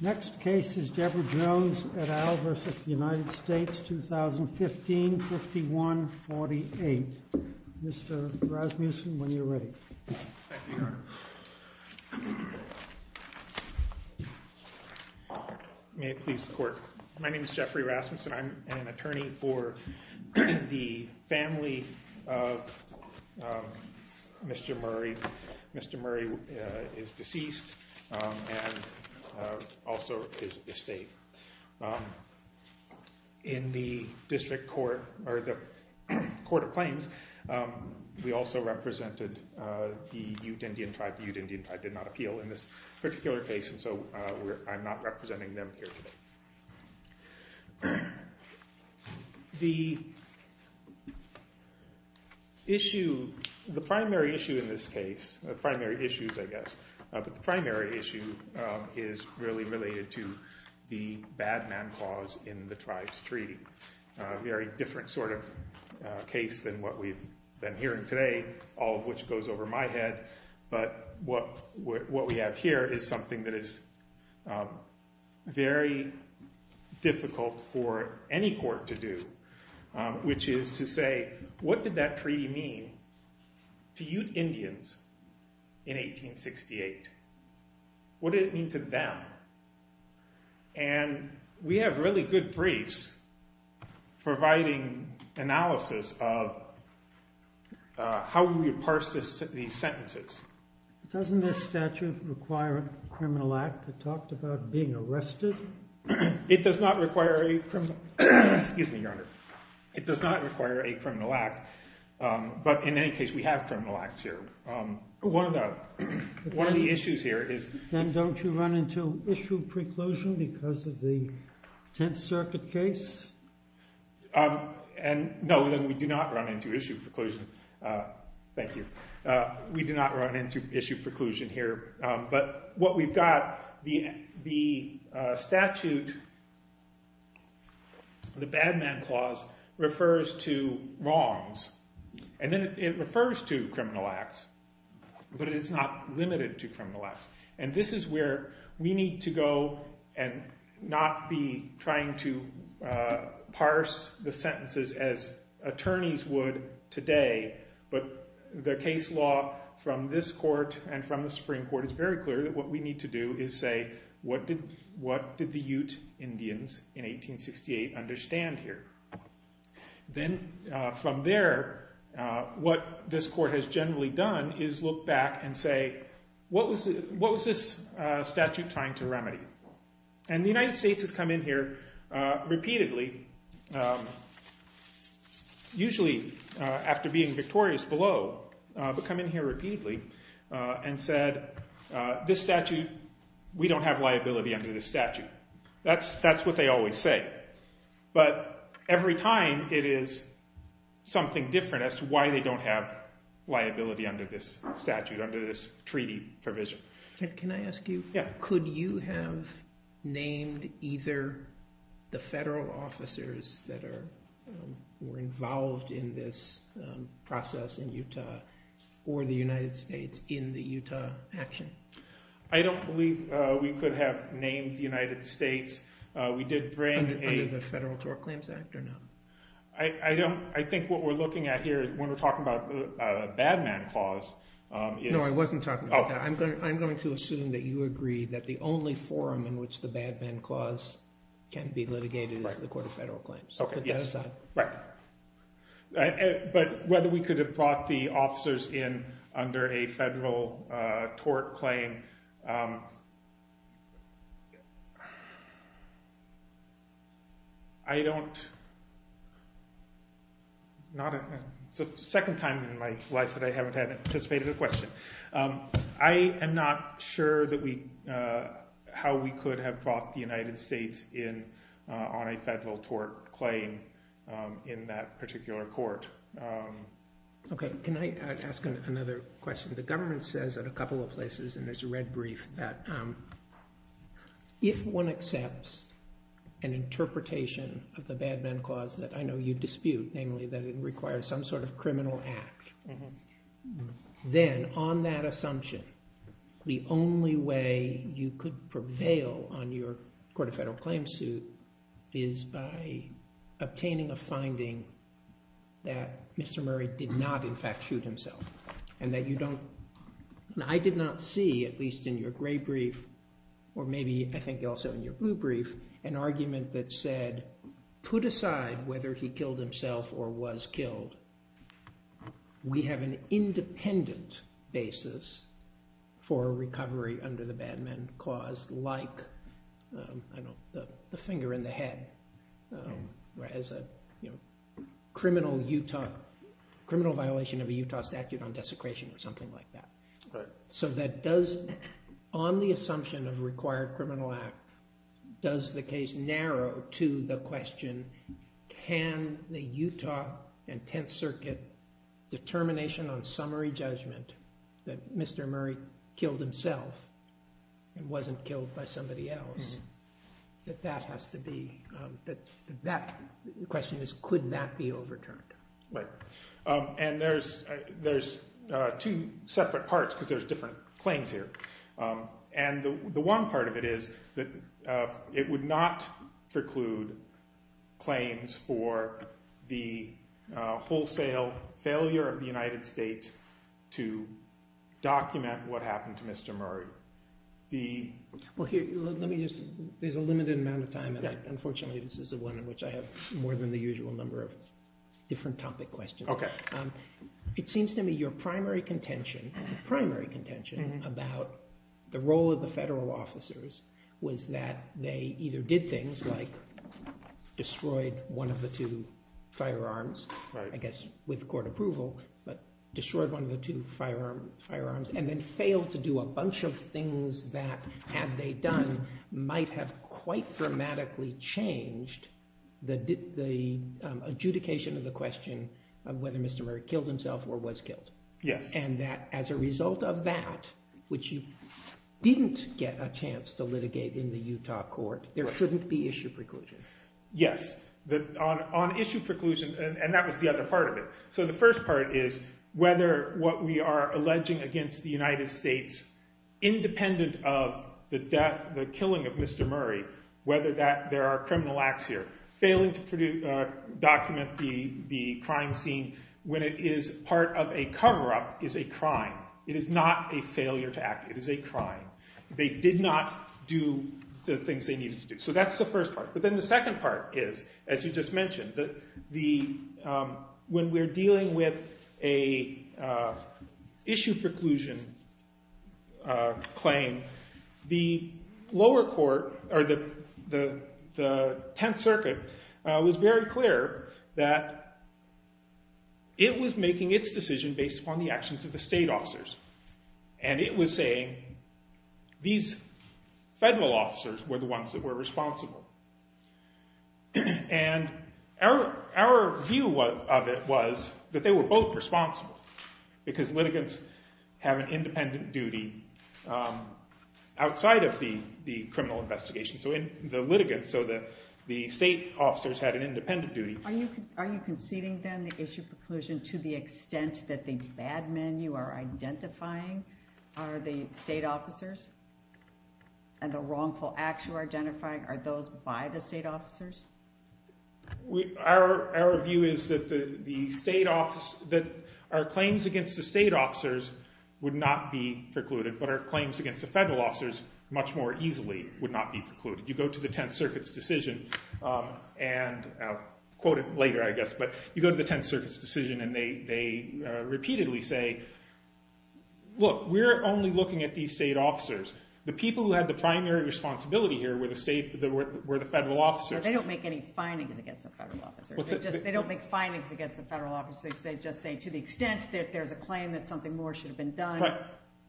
Next case is Deborah Jones et al. versus the United States, 2015, 51-48. Mr. Rasmussen, when you're ready. May it please the court. My name's Jeffrey Rasmussen. I'm an attorney for the family of Mr. Murray. Mr. Murray is deceased and also is estate. In the District Court, or the Court of Claims, we also represented the Ute Indian tribe. The Ute Indian tribe did not appeal in this particular case, and so I'm not representing them here today. The primary issue in this case, primary issues, I guess, but the primary issue is really related to the bad man clause in the tribe's treaty. Very different sort of case than what we've been hearing today, all of which goes over my head. But what we have here is something that is very difficult for any court to do, which is to say, what did that treaty mean to Ute Indians in 1868? What did it mean to them? And we have really good briefs providing analysis of how we would parse these sentences. Doesn't this statute require a criminal act? It talked about being arrested. It does not require a criminal act. But in any case, we have criminal acts here. One of the issues here is- Then don't you run into issue preclusion because of the Tenth Circuit case? And no, we do not run into issue preclusion. Thank you. We do not run into issue preclusion here. But what we've got, the statute, the bad man clause, refers to wrongs. And then it refers to criminal acts, but it's not limited to criminal acts. And this is where we need to go and not be trying to parse the sentences as attorneys would today. But the case law from this court and from the Supreme Court is very clear that what we need to do is say, what did the Ute Indians in 1868 understand here? Then from there, what this court has generally done is look back and say, what was this statute trying to remedy? And the United States has come in here repeatedly, usually after being victorious below, but come in here repeatedly and said, this statute, we don't have liability under this statute. That's what they always say. But every time, it is something different as to why they don't have liability under this statute, under this treaty provision. Can I ask you, could you have named either the federal officers that were involved in this process in Utah or the United States in the Utah action? I don't believe we could have named the United States. We did bring a- Under the Federal Tort Claims Act or no? I think what we're looking at here when we're talking about a bad man clause is- No, I wasn't talking about that. I'm going to assume that you agree that the only forum in which the bad man clause can be litigated is the Court of Federal Claims. So put that aside. Right. But whether we could have brought the officers in under a federal tort claim, I don't know. It's the second time in my life that I haven't had anticipated a question. I am not sure how we could have brought the United States in on a federal tort claim in that particular court. OK, can I ask another question? The government says in a couple of places, and there's a red brief, that if one accepts an interpretation of the bad man clause that I know you dispute, namely that it requires some sort of criminal act, then on that assumption, the only way you could prevail on your Court of Federal Claims suit is by obtaining a finding that Mr. Murray did not, in fact, shoot himself. And I did not see, at least in your gray brief, or maybe I think also in your blue brief, an argument that said, put aside whether he killed himself or was killed, we have an independent basis for a recovery under the bad man clause, like the finger in the head as a criminal violation of a Utah statute on desecration or something like that. So on the assumption of a required criminal act, does the case narrow to the question, can the Utah and Tenth Circuit determination on summary judgment that Mr. Murray killed himself and wasn't killed by somebody else, that that has to be, that that question is, could that be overturned? Right. And there's two separate parts, because there's different claims here. And the one part of it is that it would not include claims for the wholesale failure of the United States to document what happened to Mr. Murray. Well, here, let me just, there's a limited amount of time. And unfortunately, this is the one in which I have more than the usual number of different topic questions. It seems to me your primary contention, primary contention about the role of the federal officers was that they either did things like destroyed one of the two firearms, I guess with court approval, but destroyed one of the two firearms and then failed to do a bunch of things that, had they done, might have quite dramatically changed the adjudication of the question of whether Mr. Murray killed himself or was killed. Yes. And that, as a result of that, which you didn't get a chance to litigate in the Utah court, there shouldn't be issue preclusion. Yes. On issue preclusion, and that was the other part of it. So the first part is whether what we are alleging against the United States, independent of the killing of Mr. Murray, whether there are criminal acts here, failing to document the crime scene when it is part of a cover-up is a crime. It is not a failure to act. It is a crime. They did not do the things they needed to do. So that's the first part. But then the second part is, as you just mentioned, when we're dealing with a issue preclusion claim, the lower court, or the Tenth Circuit, was very clear that it was making its decision based upon the actions of the state officers. And it was saying, these federal officers were the ones that were responsible. And our view of it was that they were both responsible, because litigants have an independent duty outside of the criminal investigation. So the litigants, so the state officers had an independent duty. Are you conceding, then, the issue preclusion to the extent that the bad men you are identifying are the state officers? And the wrongful acts you are identifying are those by the state officers? Our view is that our claims against the state officers would not be precluded, but our claims against the federal officers much more easily would not be precluded. You go to the Tenth Circuit's decision, and I'll quote it later, I guess. But you go to the Tenth Circuit's decision, and they repeatedly say, look, we're only looking at these state officers. The people who had the primary responsibility here were the federal officers. So they don't make any findings against the federal officers. They don't make findings against the federal officers. They just say, to the extent that there's a claim that something more should have been done,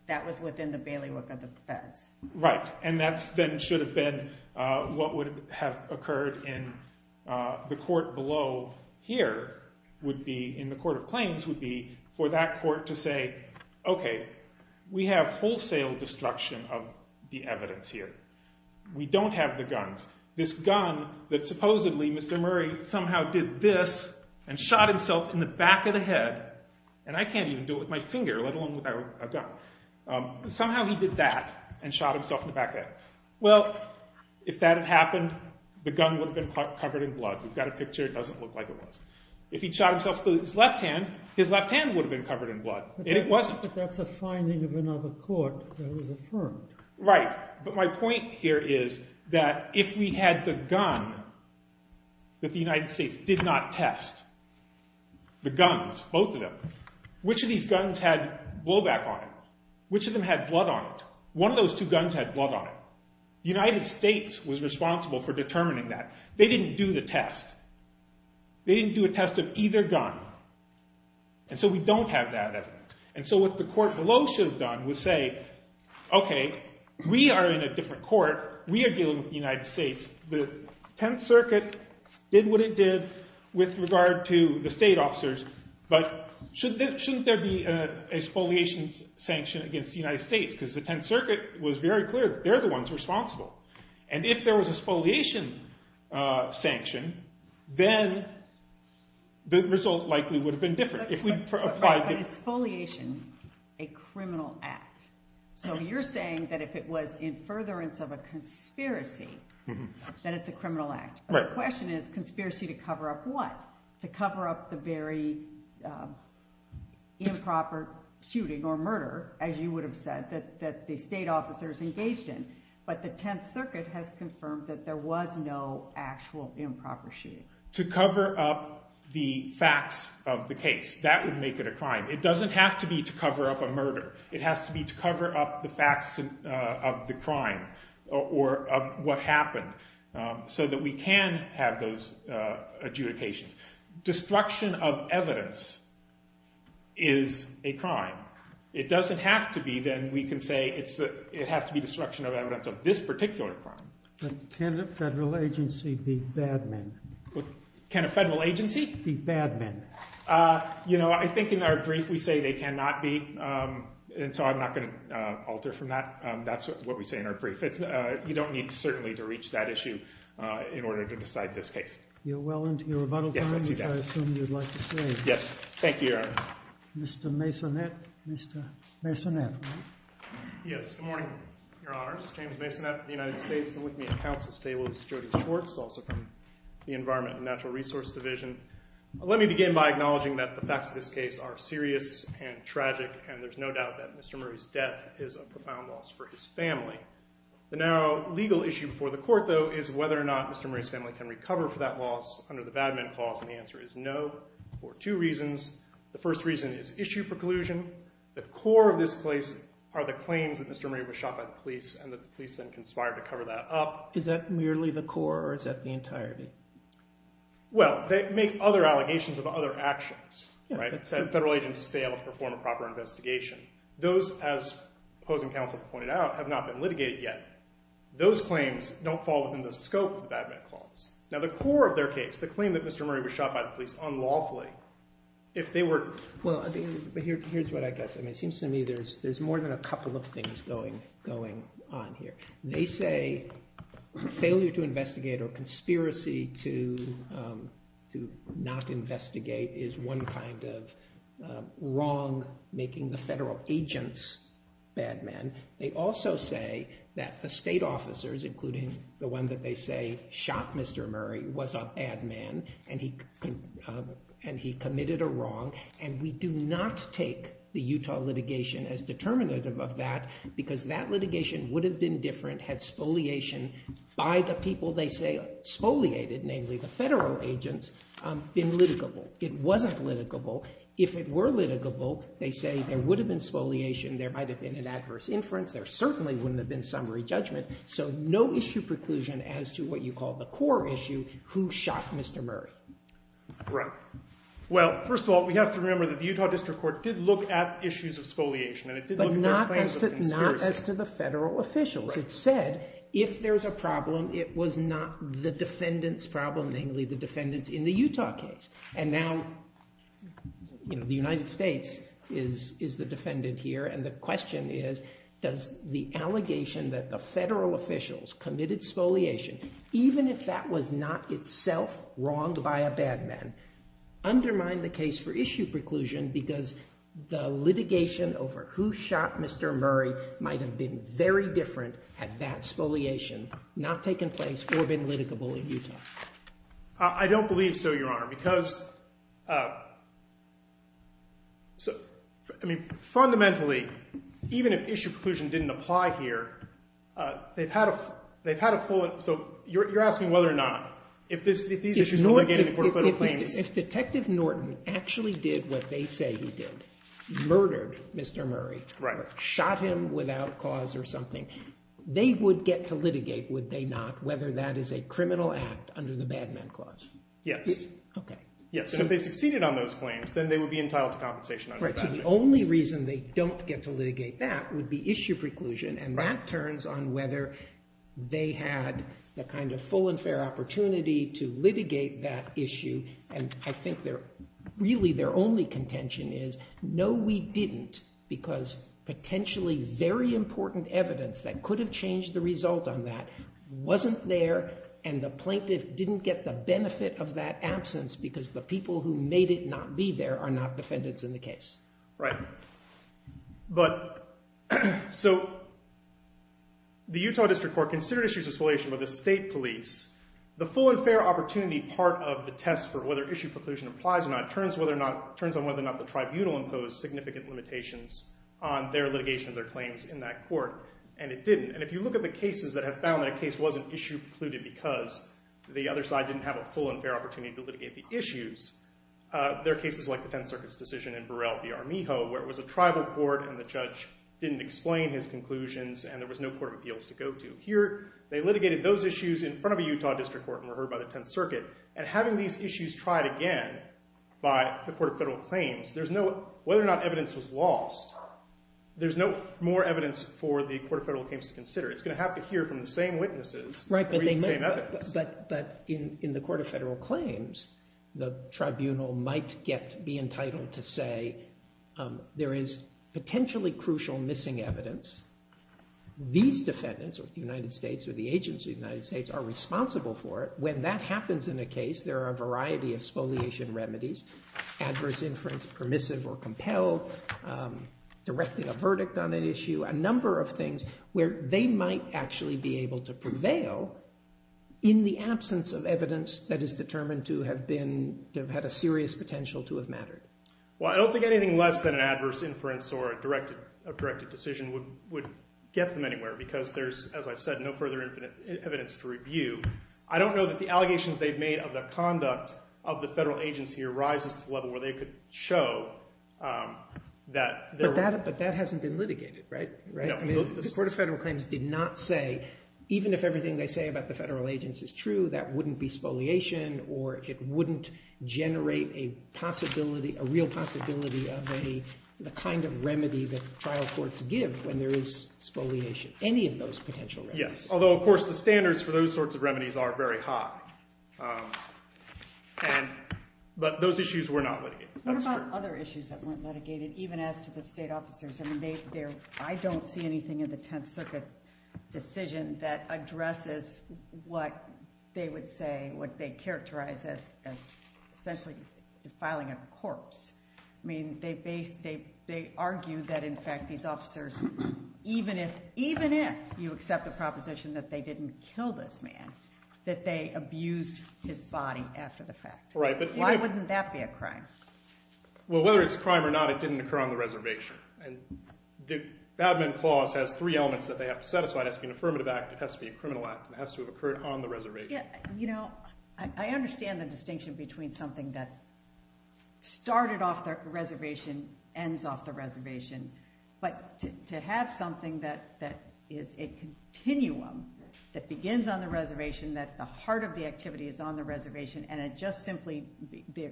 that was within the bailiwick of the feds. Right. And that, then, should have been what would have occurred in the court below here, in the court of claims, would be for that court to say, OK, we have wholesale destruction of the evidence here. We don't have the guns. This gun that, supposedly, Mr. Murray somehow did this and shot himself in the back of the head. And I can't even do it with my finger, let alone a gun. Somehow he did that and shot himself in the back of the head. Well, if that had happened, the gun would have been covered in blood. We've got a picture. It doesn't look like it was. If he'd shot himself with his left hand, his left hand would have been covered in blood, and it wasn't. But that's a finding of another court that was affirmed. Right. But my point here is that if we had the gun that the United States did not test, the guns, both of them, which of these guns had blowback on it? Which of them had blood on it? One of those two guns had blood on it. The United States was responsible for determining that. They didn't do the test. They didn't do a test of either gun. And so we don't have that evidence. And so what the court below should have done was say, OK, we are in a different court. We are dealing with the United States. The Tenth Circuit did what it did with regard to the state officers. But shouldn't there be a spoliation sanction against the United States? Because the Tenth Circuit was very clear that they're the ones responsible. And if there was a spoliation sanction, then the result likely would have been different. If we applied the- But is spoliation a criminal act? So you're saying that if it was in furtherance of a conspiracy, that it's a criminal act. But the question is, conspiracy to cover up what? To cover up the very improper shooting or murder, as you would have said, that the state officers engaged in. But the Tenth Circuit has confirmed that there was no actual improper shooting. To cover up the facts of the case, that would make it a crime. It doesn't have to be to cover up a murder. It has to be to cover up the facts of the crime, or of what happened, so that we can have those adjudications. Destruction of evidence is a crime. It doesn't have to be. Then we can say it has to be destruction of evidence of this particular crime. Can a federal agency be bad men? Can a federal agency be bad men? You know, I think in our brief, we say they cannot be. And so I'm not going to alter from that. That's what we say in our brief. You don't need, certainly, to reach that issue in order to decide this case. You're well into your rebuttal time, which I assume you'd like to say. Yes. Thank you, Your Honor. Mr. Masonette. Mr. Masonette, right? Yes, good morning, Your Honors. James Masonette, United States, and with me at the council today was Jody Schwartz, also from the Environment and Natural Resource Division. Let me begin by acknowledging that the facts of this case are serious and tragic, and there's no doubt that Mr. Murray's death is a profound loss for his family. The now legal issue before the court, though, is whether or not Mr. Murray's family can recover for that loss under the bad men clause. And the answer is no, for two reasons. The first reason is issue preclusion. The core of this case are the claims that Mr. Murray was shot by the police, and that the police then conspired to cover that up. Is that merely the core, or is that the entirety? Well, they make other allegations of other actions, right? Federal agents fail to perform a proper investigation. Those, as opposing counsel pointed out, have not been litigated yet. Those claims don't fall within the scope of the bad men clause. Now, the core of their case, the claim that Mr. Murray was shot by the police unlawfully, if they were to. Well, here's what I guess. I mean, it seems to me there's more than a couple of things going on here. They say failure to investigate or conspiracy to not investigate is one kind of wrong, making the federal agents bad men. They also say that the state officers, including the one that they say shot Mr. Murray, was a bad man, and he committed a wrong. And we do not take the Utah litigation as determinative of that, because that litigation would have been different, had spoliation by the people they say spoliated, namely the federal agents, been litigable. It wasn't litigable. If it were litigable, they say there would have been spoliation. There might have been an adverse inference. There certainly wouldn't have been summary judgment. So no issue preclusion as to what you call the core issue, who shot Mr. Murray. Right. Well, first of all, we have to remember that the Utah District Court did look at issues of spoliation, and it did look at their claims of conspiracy. Not as to the federal officials. It said, if there's a problem, it was not the defendant's problem, namely the defendants in the Utah case. And now the United States is the defendant here, and the question is, does the allegation that the federal officials committed spoliation, even if that was not itself wronged by a bad man, undermine the case for issue preclusion, because the litigation over who shot Mr. Murray might have been very different had that spoliation not taken place or been litigable in Utah? I don't believe so, Your Honor, because fundamentally, even if issue preclusion didn't apply here, they've had a full, so you're asking whether or not, if these issues were litigated in the Court of Federal Claims. If Detective Norton actually did what they say he did, murdered Mr. Murray, shot him without cause or something, they would get to litigate, would they not, whether that is a criminal act under the bad man clause? Yes. OK. Yes, so if they succeeded on those claims, then they would be entitled to compensation under the bad man clause. Right, so the only reason they don't get to litigate that would be issue preclusion, and that turns on whether they had the kind of full and fair opportunity to litigate that issue. And I think really their only contention is, no, we didn't, because potentially very important evidence that could have changed the result on that wasn't there, and the plaintiff didn't get the benefit of that absence, because the people who made it not be there are not defendants in the case. Right, but so the Utah District Court considered issues of isolation by the state police. The full and fair opportunity part of the test for whether issue preclusion applies or not turns on whether or not the tribunal imposed significant limitations on their litigation of their claims in that court, and it didn't. And if you look at the cases that have found that a case wasn't issue precluded because the other side didn't have a full and fair opportunity to litigate the issues, there are cases like the 10th Circuit's decision in Burrell v. Armijo, where it was a tribal court, and the judge didn't explain his conclusions, and there was no court of appeals to go to. They litigated those issues in front of a Utah District Court and were heard by the 10th Circuit, and having these issues tried again by the Court of Federal Claims, whether or not evidence was lost, there's no more evidence for the Court of Federal Claims to consider. It's going to have to hear from the same witnesses who read the same evidence. Right, but in the Court of Federal Claims, the tribunal might be entitled to say, there is potentially crucial missing evidence. These defendants, or the United States, or the agents of the United States, are responsible for it. When that happens in a case, there are a variety of spoliation remedies, adverse inference permissive or compelled, directing a verdict on an issue, a number of things where they might actually be able to prevail in the absence of evidence that is determined to have had a serious potential to have mattered. Well, I don't think anything less than an adverse inference or a directed decision would get them anywhere, because there's, as I've said, no further evidence to review. I don't know that the allegations they've made of the conduct of the federal agents here rises to the level where they could show that there were. But that hasn't been litigated, right? No. The Court of Federal Claims did not say, even if everything they say about the federal agents is true, that wouldn't be spoliation, or it wouldn't generate a possibility, a real possibility of the kind of remedy that trial courts give when there is spoliation, any of those potential remedies. Yes. Although, of course, the standards for those sorts of remedies are very high. But those issues were not litigated. What about other issues that weren't litigated, even as to the state officers? I don't see anything in the Tenth Circuit decision that addresses what they would say, what they characterize as essentially filing a corpse. I mean, they argue that, in fact, these officers, even if you accept the proposition that they didn't kill this man, that they abused his body after the fact. Right. Why wouldn't that be a crime? Well, whether it's a crime or not, it didn't occur on the reservation. And the Bad Men Clause has three elements that they have to satisfy. It has to be an affirmative act, it has to be a criminal act, and it has to have occurred on the reservation. You know, I understand the distinction between something that started off the reservation, ends off the reservation. But to have something that is a continuum, that begins on the reservation, that the heart of the activity is on the reservation, and it just simply,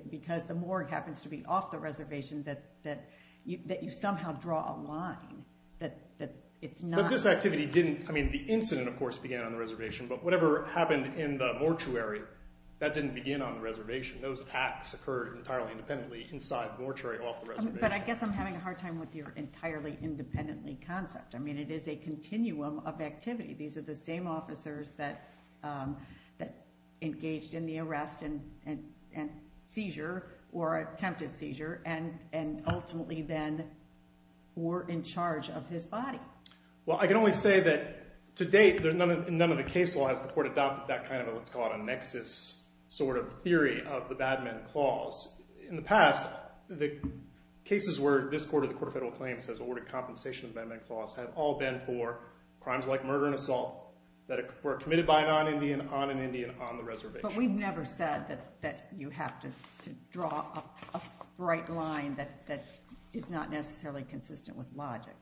because the morgue happens to be off the reservation, that you somehow draw a line, that it's not. But this activity didn't, I mean, the incident, of course, began on the reservation. But whatever happened in the mortuary, that didn't begin on the reservation. Those attacks occurred entirely independently inside the mortuary, off the reservation. But I guess I'm having a hard time with your entirely independently concept. I mean, it is a continuum of activity. These are the same officers that engaged in the arrest and seizure, or attempted seizure, and ultimately then were in charge of his body. Well, I can only say that to date, in none of the case laws, the court adopted that kind of a, let's call it a nexus, sort of theory of the bad men clause. In the past, the cases where this court, or the Court of Federal Claims, has awarded compensation of bad men clause, have all been for crimes like murder and assault, that were committed by a non-Indian on an Indian on the reservation. But we've never said that you have to draw a bright line that is not necessarily consistent with logic.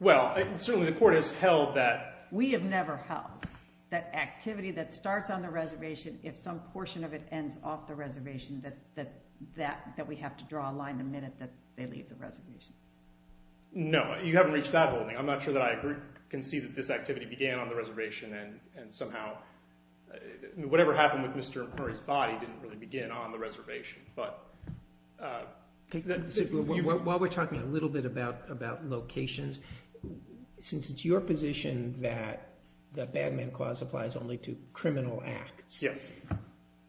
Well, certainly the court has held that. We have never held that activity that if some portion of it ends off the reservation, that we have to draw a line the minute that they leave the reservation. No, you haven't reached that whole thing. I'm not sure that I can see that this activity began on the reservation, and somehow, whatever happened with Mr. Empery's body didn't really begin on the reservation. But, uh, While we're talking a little bit about locations, since it's your position that the bad men clause applies only to criminal acts,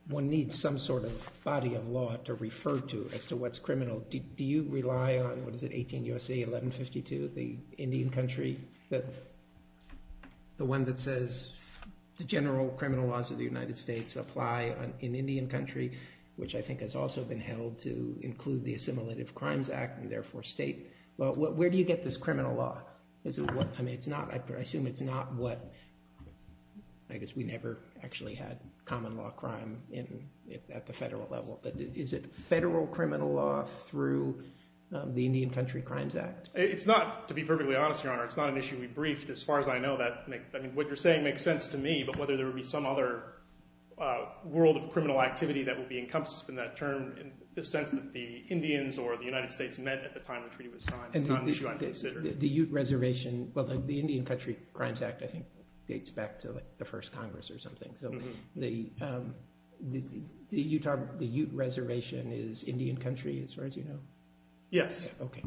one needs some sort of body of law to refer to as to what's criminal. Do you rely on, what is it, 18 U.S.A. 1152, the Indian country, the one that says the general criminal laws of the United States apply in Indian country, which I think has also been held to include the Assimilative Crimes Act, and therefore state. Well, where do you get this criminal law? Is it what, I mean, it's not, I assume it's not what, I guess we never actually had common law crime at the federal level, but is it federal criminal law through the Indian Country Crimes Act? It's not, to be perfectly honest, Your Honor, it's not an issue we briefed, as far as I know, that, I mean, what you're saying makes sense to me, but whether there would be some other world of criminal activity that would be encompassed in that term, in the sense that the Indians or the United States met at the time the treaty was signed is not an issue I'd consider. The Ute Reservation, well, the Indian Country Crimes Act, I think dates back to the first Congress or something, so the Utah, the Ute Reservation is Indian country, as far as you know? Yes. Okay.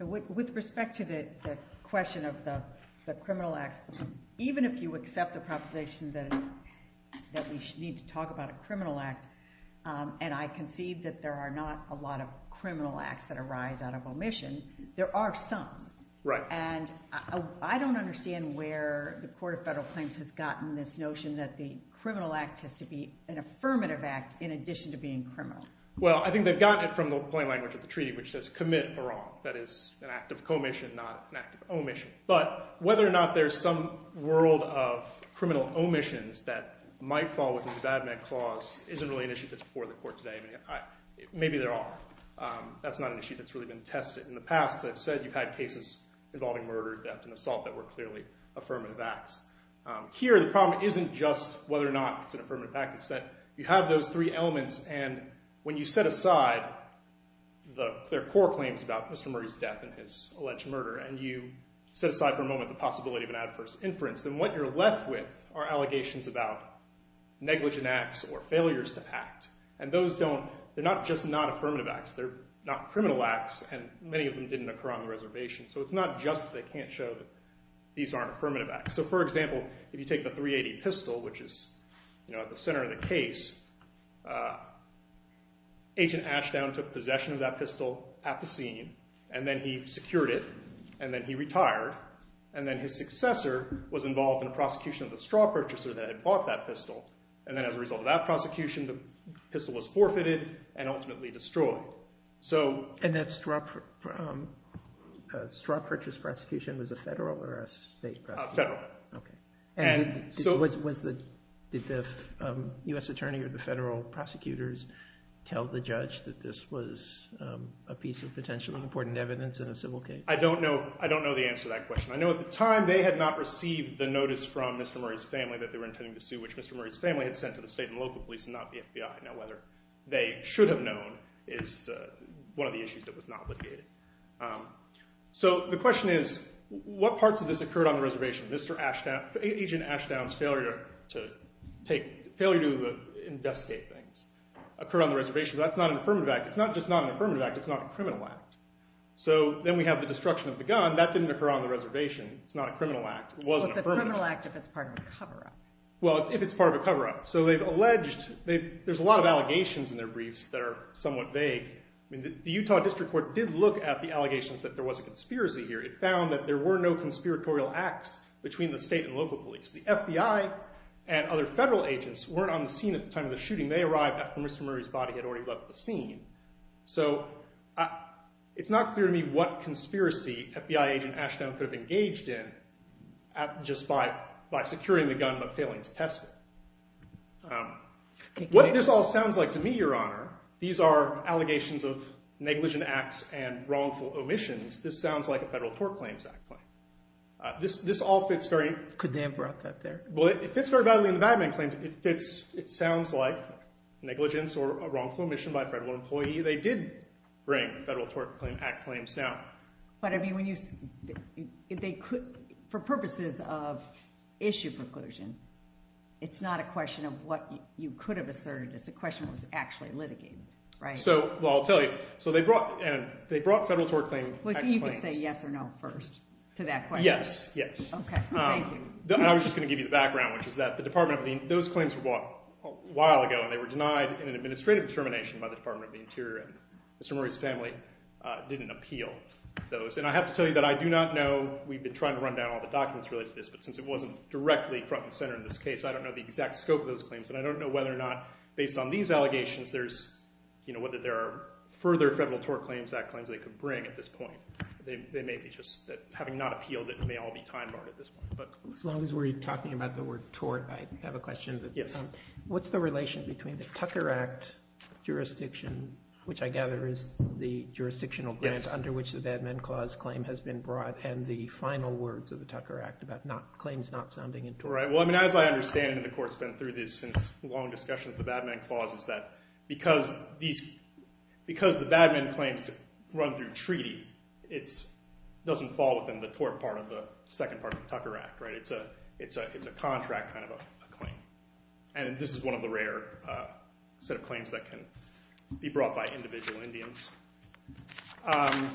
With respect to the question of the criminal acts, even if you accept the proposition that we need to talk about a criminal act, and I concede that there are not a lot of criminal acts that arise out of omission, there are some. Right. And I don't understand where the Court of Federal Claims has gotten this notion that the criminal act has to be an affirmative act in addition to being criminal. Well, I think they've gotten it from the plain language of the treaty, which says commit a wrong. That is an act of commission, not an act of omission. But whether or not there's some world of criminal omissions that might fall within the bad man clause isn't really an issue that's before the court today. Maybe there are. That's not an issue that's really been tested. In the past, as I've said, you've had cases involving murder, death, and assault that were clearly affirmative acts. Here, the problem isn't just whether or not it's an affirmative act. It's that you have those three elements, and when you set aside their core claims about Mr. Murray's death and his alleged murder, and you set aside for a moment the possibility of an adverse inference, then what you're left with are allegations about negligent acts or failures to act. And those don't, they're not just not affirmative acts. They're not criminal acts, and many of them didn't occur on the reservation. So it's not just that they can't show that these aren't affirmative acts. So for example, if you take the .380 pistol, which is at the center of the case, Agent Ashdown took possession of that pistol at the scene, and then he secured it, and then he retired, and then his successor was involved in a prosecution of the straw purchaser that had bought that pistol. And then as a result of that prosecution, the pistol was forfeited and ultimately destroyed. So. And that straw purchase prosecution was a federal or a state prosecution? A federal. Okay. And did the U.S. Attorney or the federal prosecutors tell the judge that this was a piece of potentially important evidence in a civil case? I don't know the answer to that question. I know at the time, they had not received the notice from Mr. Murray's family that they were intending to sue, which Mr. Murray's family had sent to the state and local police and not the FBI. Now, whether they should have known is one of the issues that was not litigated. So the question is, what parts of this occurred on the reservation? Mr. Ashdown, Agent Ashdown's failure to take, failure to investigate things, occurred on the reservation, but that's not an affirmative act. It's not just not an affirmative act, it's not a criminal act. So then we have the destruction of the gun. That didn't occur on the reservation. It's not a criminal act. It was an affirmative act. Well, it's a criminal act if it's part of a cover-up. Well, if it's part of a cover-up. So they've alleged, there's a lot of allegations in their briefs that are somewhat vague. I mean, the Utah District Court did look at the allegations that there was a conspiracy here. It found that there were no conspiratorial acts between the state and local police. The FBI and other federal agents weren't on the scene at the time of the shooting. They arrived after Mr. Murray's body had already left the scene. So it's not clear to me what conspiracy FBI Agent Ashdown could have engaged in just by securing the gun but failing to test it. What this all sounds like to me, Your Honor, these are allegations of negligent acts and wrongful omissions. This sounds like a Federal Tort Claims Act claim. This all fits very... Could they have brought that there? Well, it fits very badly in the Badman Claims. It fits, it sounds like negligence or a wrongful omission by a federal employee. They did bring Federal Tort Claim Act claims down. But I mean, for purposes of issue preclusion, it's not a question of what you could have asserted. It's a question of what was actually litigated, right? So, well, I'll tell you. So they brought Federal Tort Claim Act claims. Well, you can say yes or no first to that question. Yes, yes. Okay, thank you. And I was just gonna give you the background, which is that the Department of the Interior, those claims were brought a while ago and they were denied in an administrative determination by the Department of the Interior. And Mr. Murray's family didn't appeal those. And I have to tell you that I do not know, we've been trying to run down all the documents related to this, but since it wasn't directly front and center in this case, I don't know the exact scope of those claims. And I don't know whether or not, based on these allegations, there's, you know, whether there are further Federal Tort Claims Act claims they could bring at this point. They may be just, having not appealed it, it may all be time barred at this point, but. As long as we're talking about the word tort, I have a question. Yes. What's the relation between the Tucker Act jurisdiction, which I gather is the jurisdictional grant under which the Bad Men Clause claim has been brought, and the final words of the Tucker Act claims not sounding in tort? Right, well, I mean, as I understand it, and the Court's been through this since long discussions, the Bad Men Clause is that because these, because the Bad Men claims run through treaty, it doesn't fall within the tort part of the second part of the Tucker Act, right? It's a contract kind of a claim. And this is one of the rare set of claims that can be brought by individual Indians. And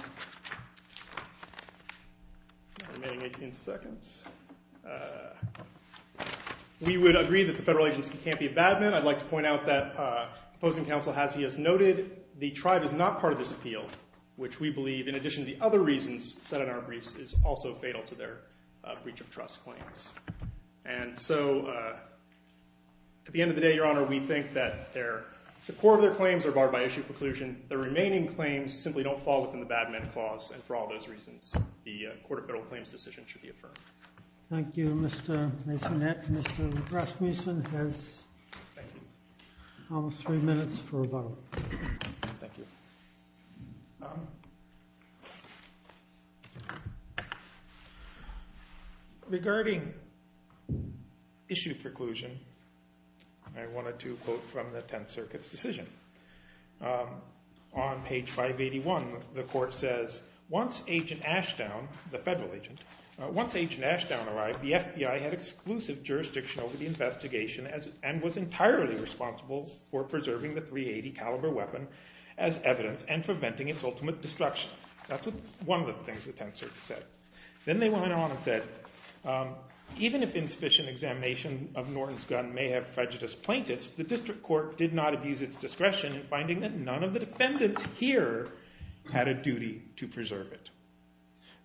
we would agree that the federal agency can't be a bad man. I'd like to point out that opposing counsel has, he has noted, the tribe is not part of this appeal, which we believe, in addition to the other reasons set in our briefs, is also fatal to their breach of trust claims. And so at the end of the day, Your Honor, we think that the core of their claims are barred by issue preclusion. The remaining claims simply don't fall within the Bad Men Clause. And for all those reasons, the Court of Federal Claims decision should be affirmed. Thank you, Mr. Masonette. Mr. Rasmussen has almost three minutes for a vote. Thank you. Regarding issue preclusion, I wanted to quote from the Tenth Circuit's decision. On page 581, the court says, once Agent Ashdown, the federal agent, once Agent Ashdown arrived, the FBI had exclusive jurisdiction over the investigation and was entirely responsible for preserving the .380 caliber weapon as evidence and preventing its ultimate destruction. That's one of the things the Tenth Circuit said. Then they went on and said, even if insufficient examination of Norton's gun may have prejudice plaintiffs, the district court did not abuse its discretion in finding that none of the defendants here had a duty to preserve it.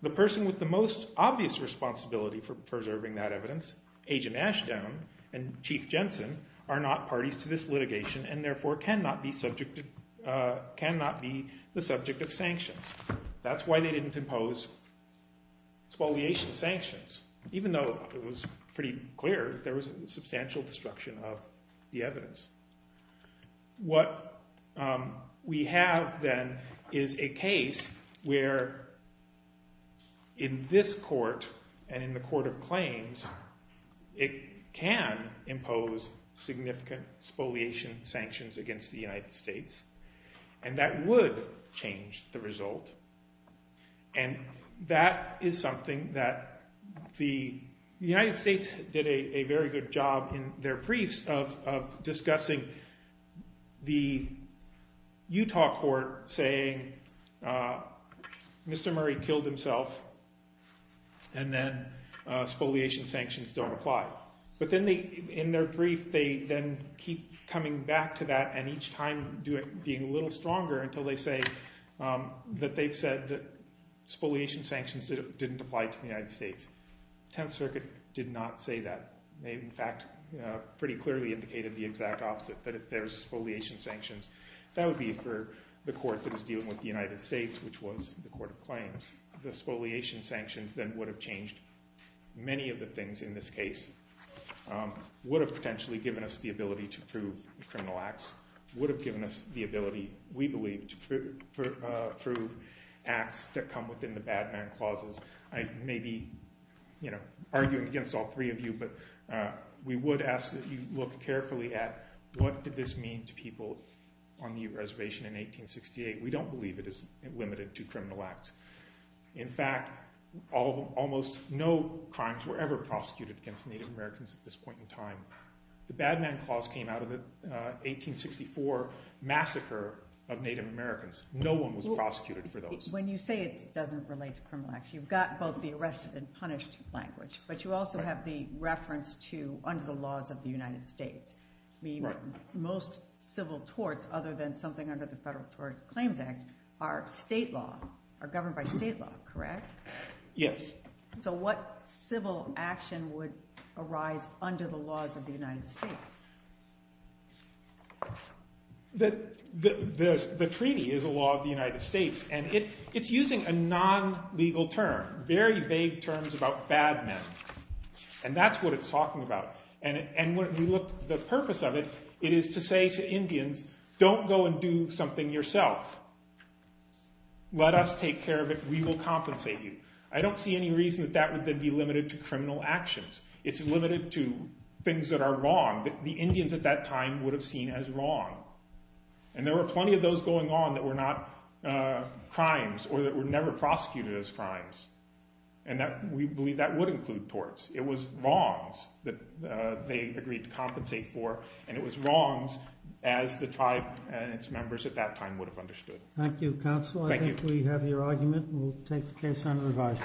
The person with the most obvious responsibility for preserving that evidence, Agent Ashdown and Chief Jensen, are not parties to this litigation and therefore cannot be the subject of sanctions. That's why they didn't impose spoliation sanctions. Even though it was pretty clear there was substantial destruction of the evidence. What we have then is a case where in this court and in the court of claims, it can impose significant spoliation sanctions And that would change the result. And that is something that the United States did a very good job in their briefs of discussing the Utah court saying, Mr. Murray killed himself, and then spoliation sanctions don't apply. But then in their brief, they then keep coming back to that and each time being a little stronger until they say that they've said that spoliation sanctions didn't apply to the United States. Tenth Circuit did not say that. They, in fact, pretty clearly indicated the exact opposite, that if there's spoliation sanctions, that would be for the court that is dealing with the United States, which was the court of claims. The spoliation sanctions then would have changed many of the things in this case, would have potentially given us the ability to prove the criminal acts, would have given us the ability, we believe, to prove acts that come within the bad man clauses. I may be arguing against all three of you, but we would ask that you look carefully at what did this mean to people on the reservation in 1868. We don't believe it is limited to criminal acts. In fact, almost no crimes were ever prosecuted against Native Americans at this point in time. The bad man clause came out of the 1864 massacre of Native Americans. No one was prosecuted for those. When you say it doesn't relate to criminal acts, you've got both the arrested and punished language, but you also have the reference to under the laws of the United States. Most civil torts, other than something under the Federal Tort Claims Act, are state law, are governed by state law, correct? Yes. So what civil action would arise under the laws of the United States? The treaty is a law of the United States, and it's using a non-legal term, very vague terms about bad men. And that's what it's talking about. And when we looked at the purpose of it, it is to say to Indians, don't go and do something yourself. Let us take care of it. We will compensate you. I don't see any reason that that would then be limited to criminal actions. It's limited to things that are wrong, that the Indians at that time would have seen as wrong. And there were plenty of those going on that were not crimes, or that were never prosecuted as crimes. And we believe that would include torts. It was wrongs that they agreed to compensate for. And it was wrongs, as the tribe and its members at that time would have understood. Thank you, counsel. Thank you. I think we have your argument. We'll take the case on revision.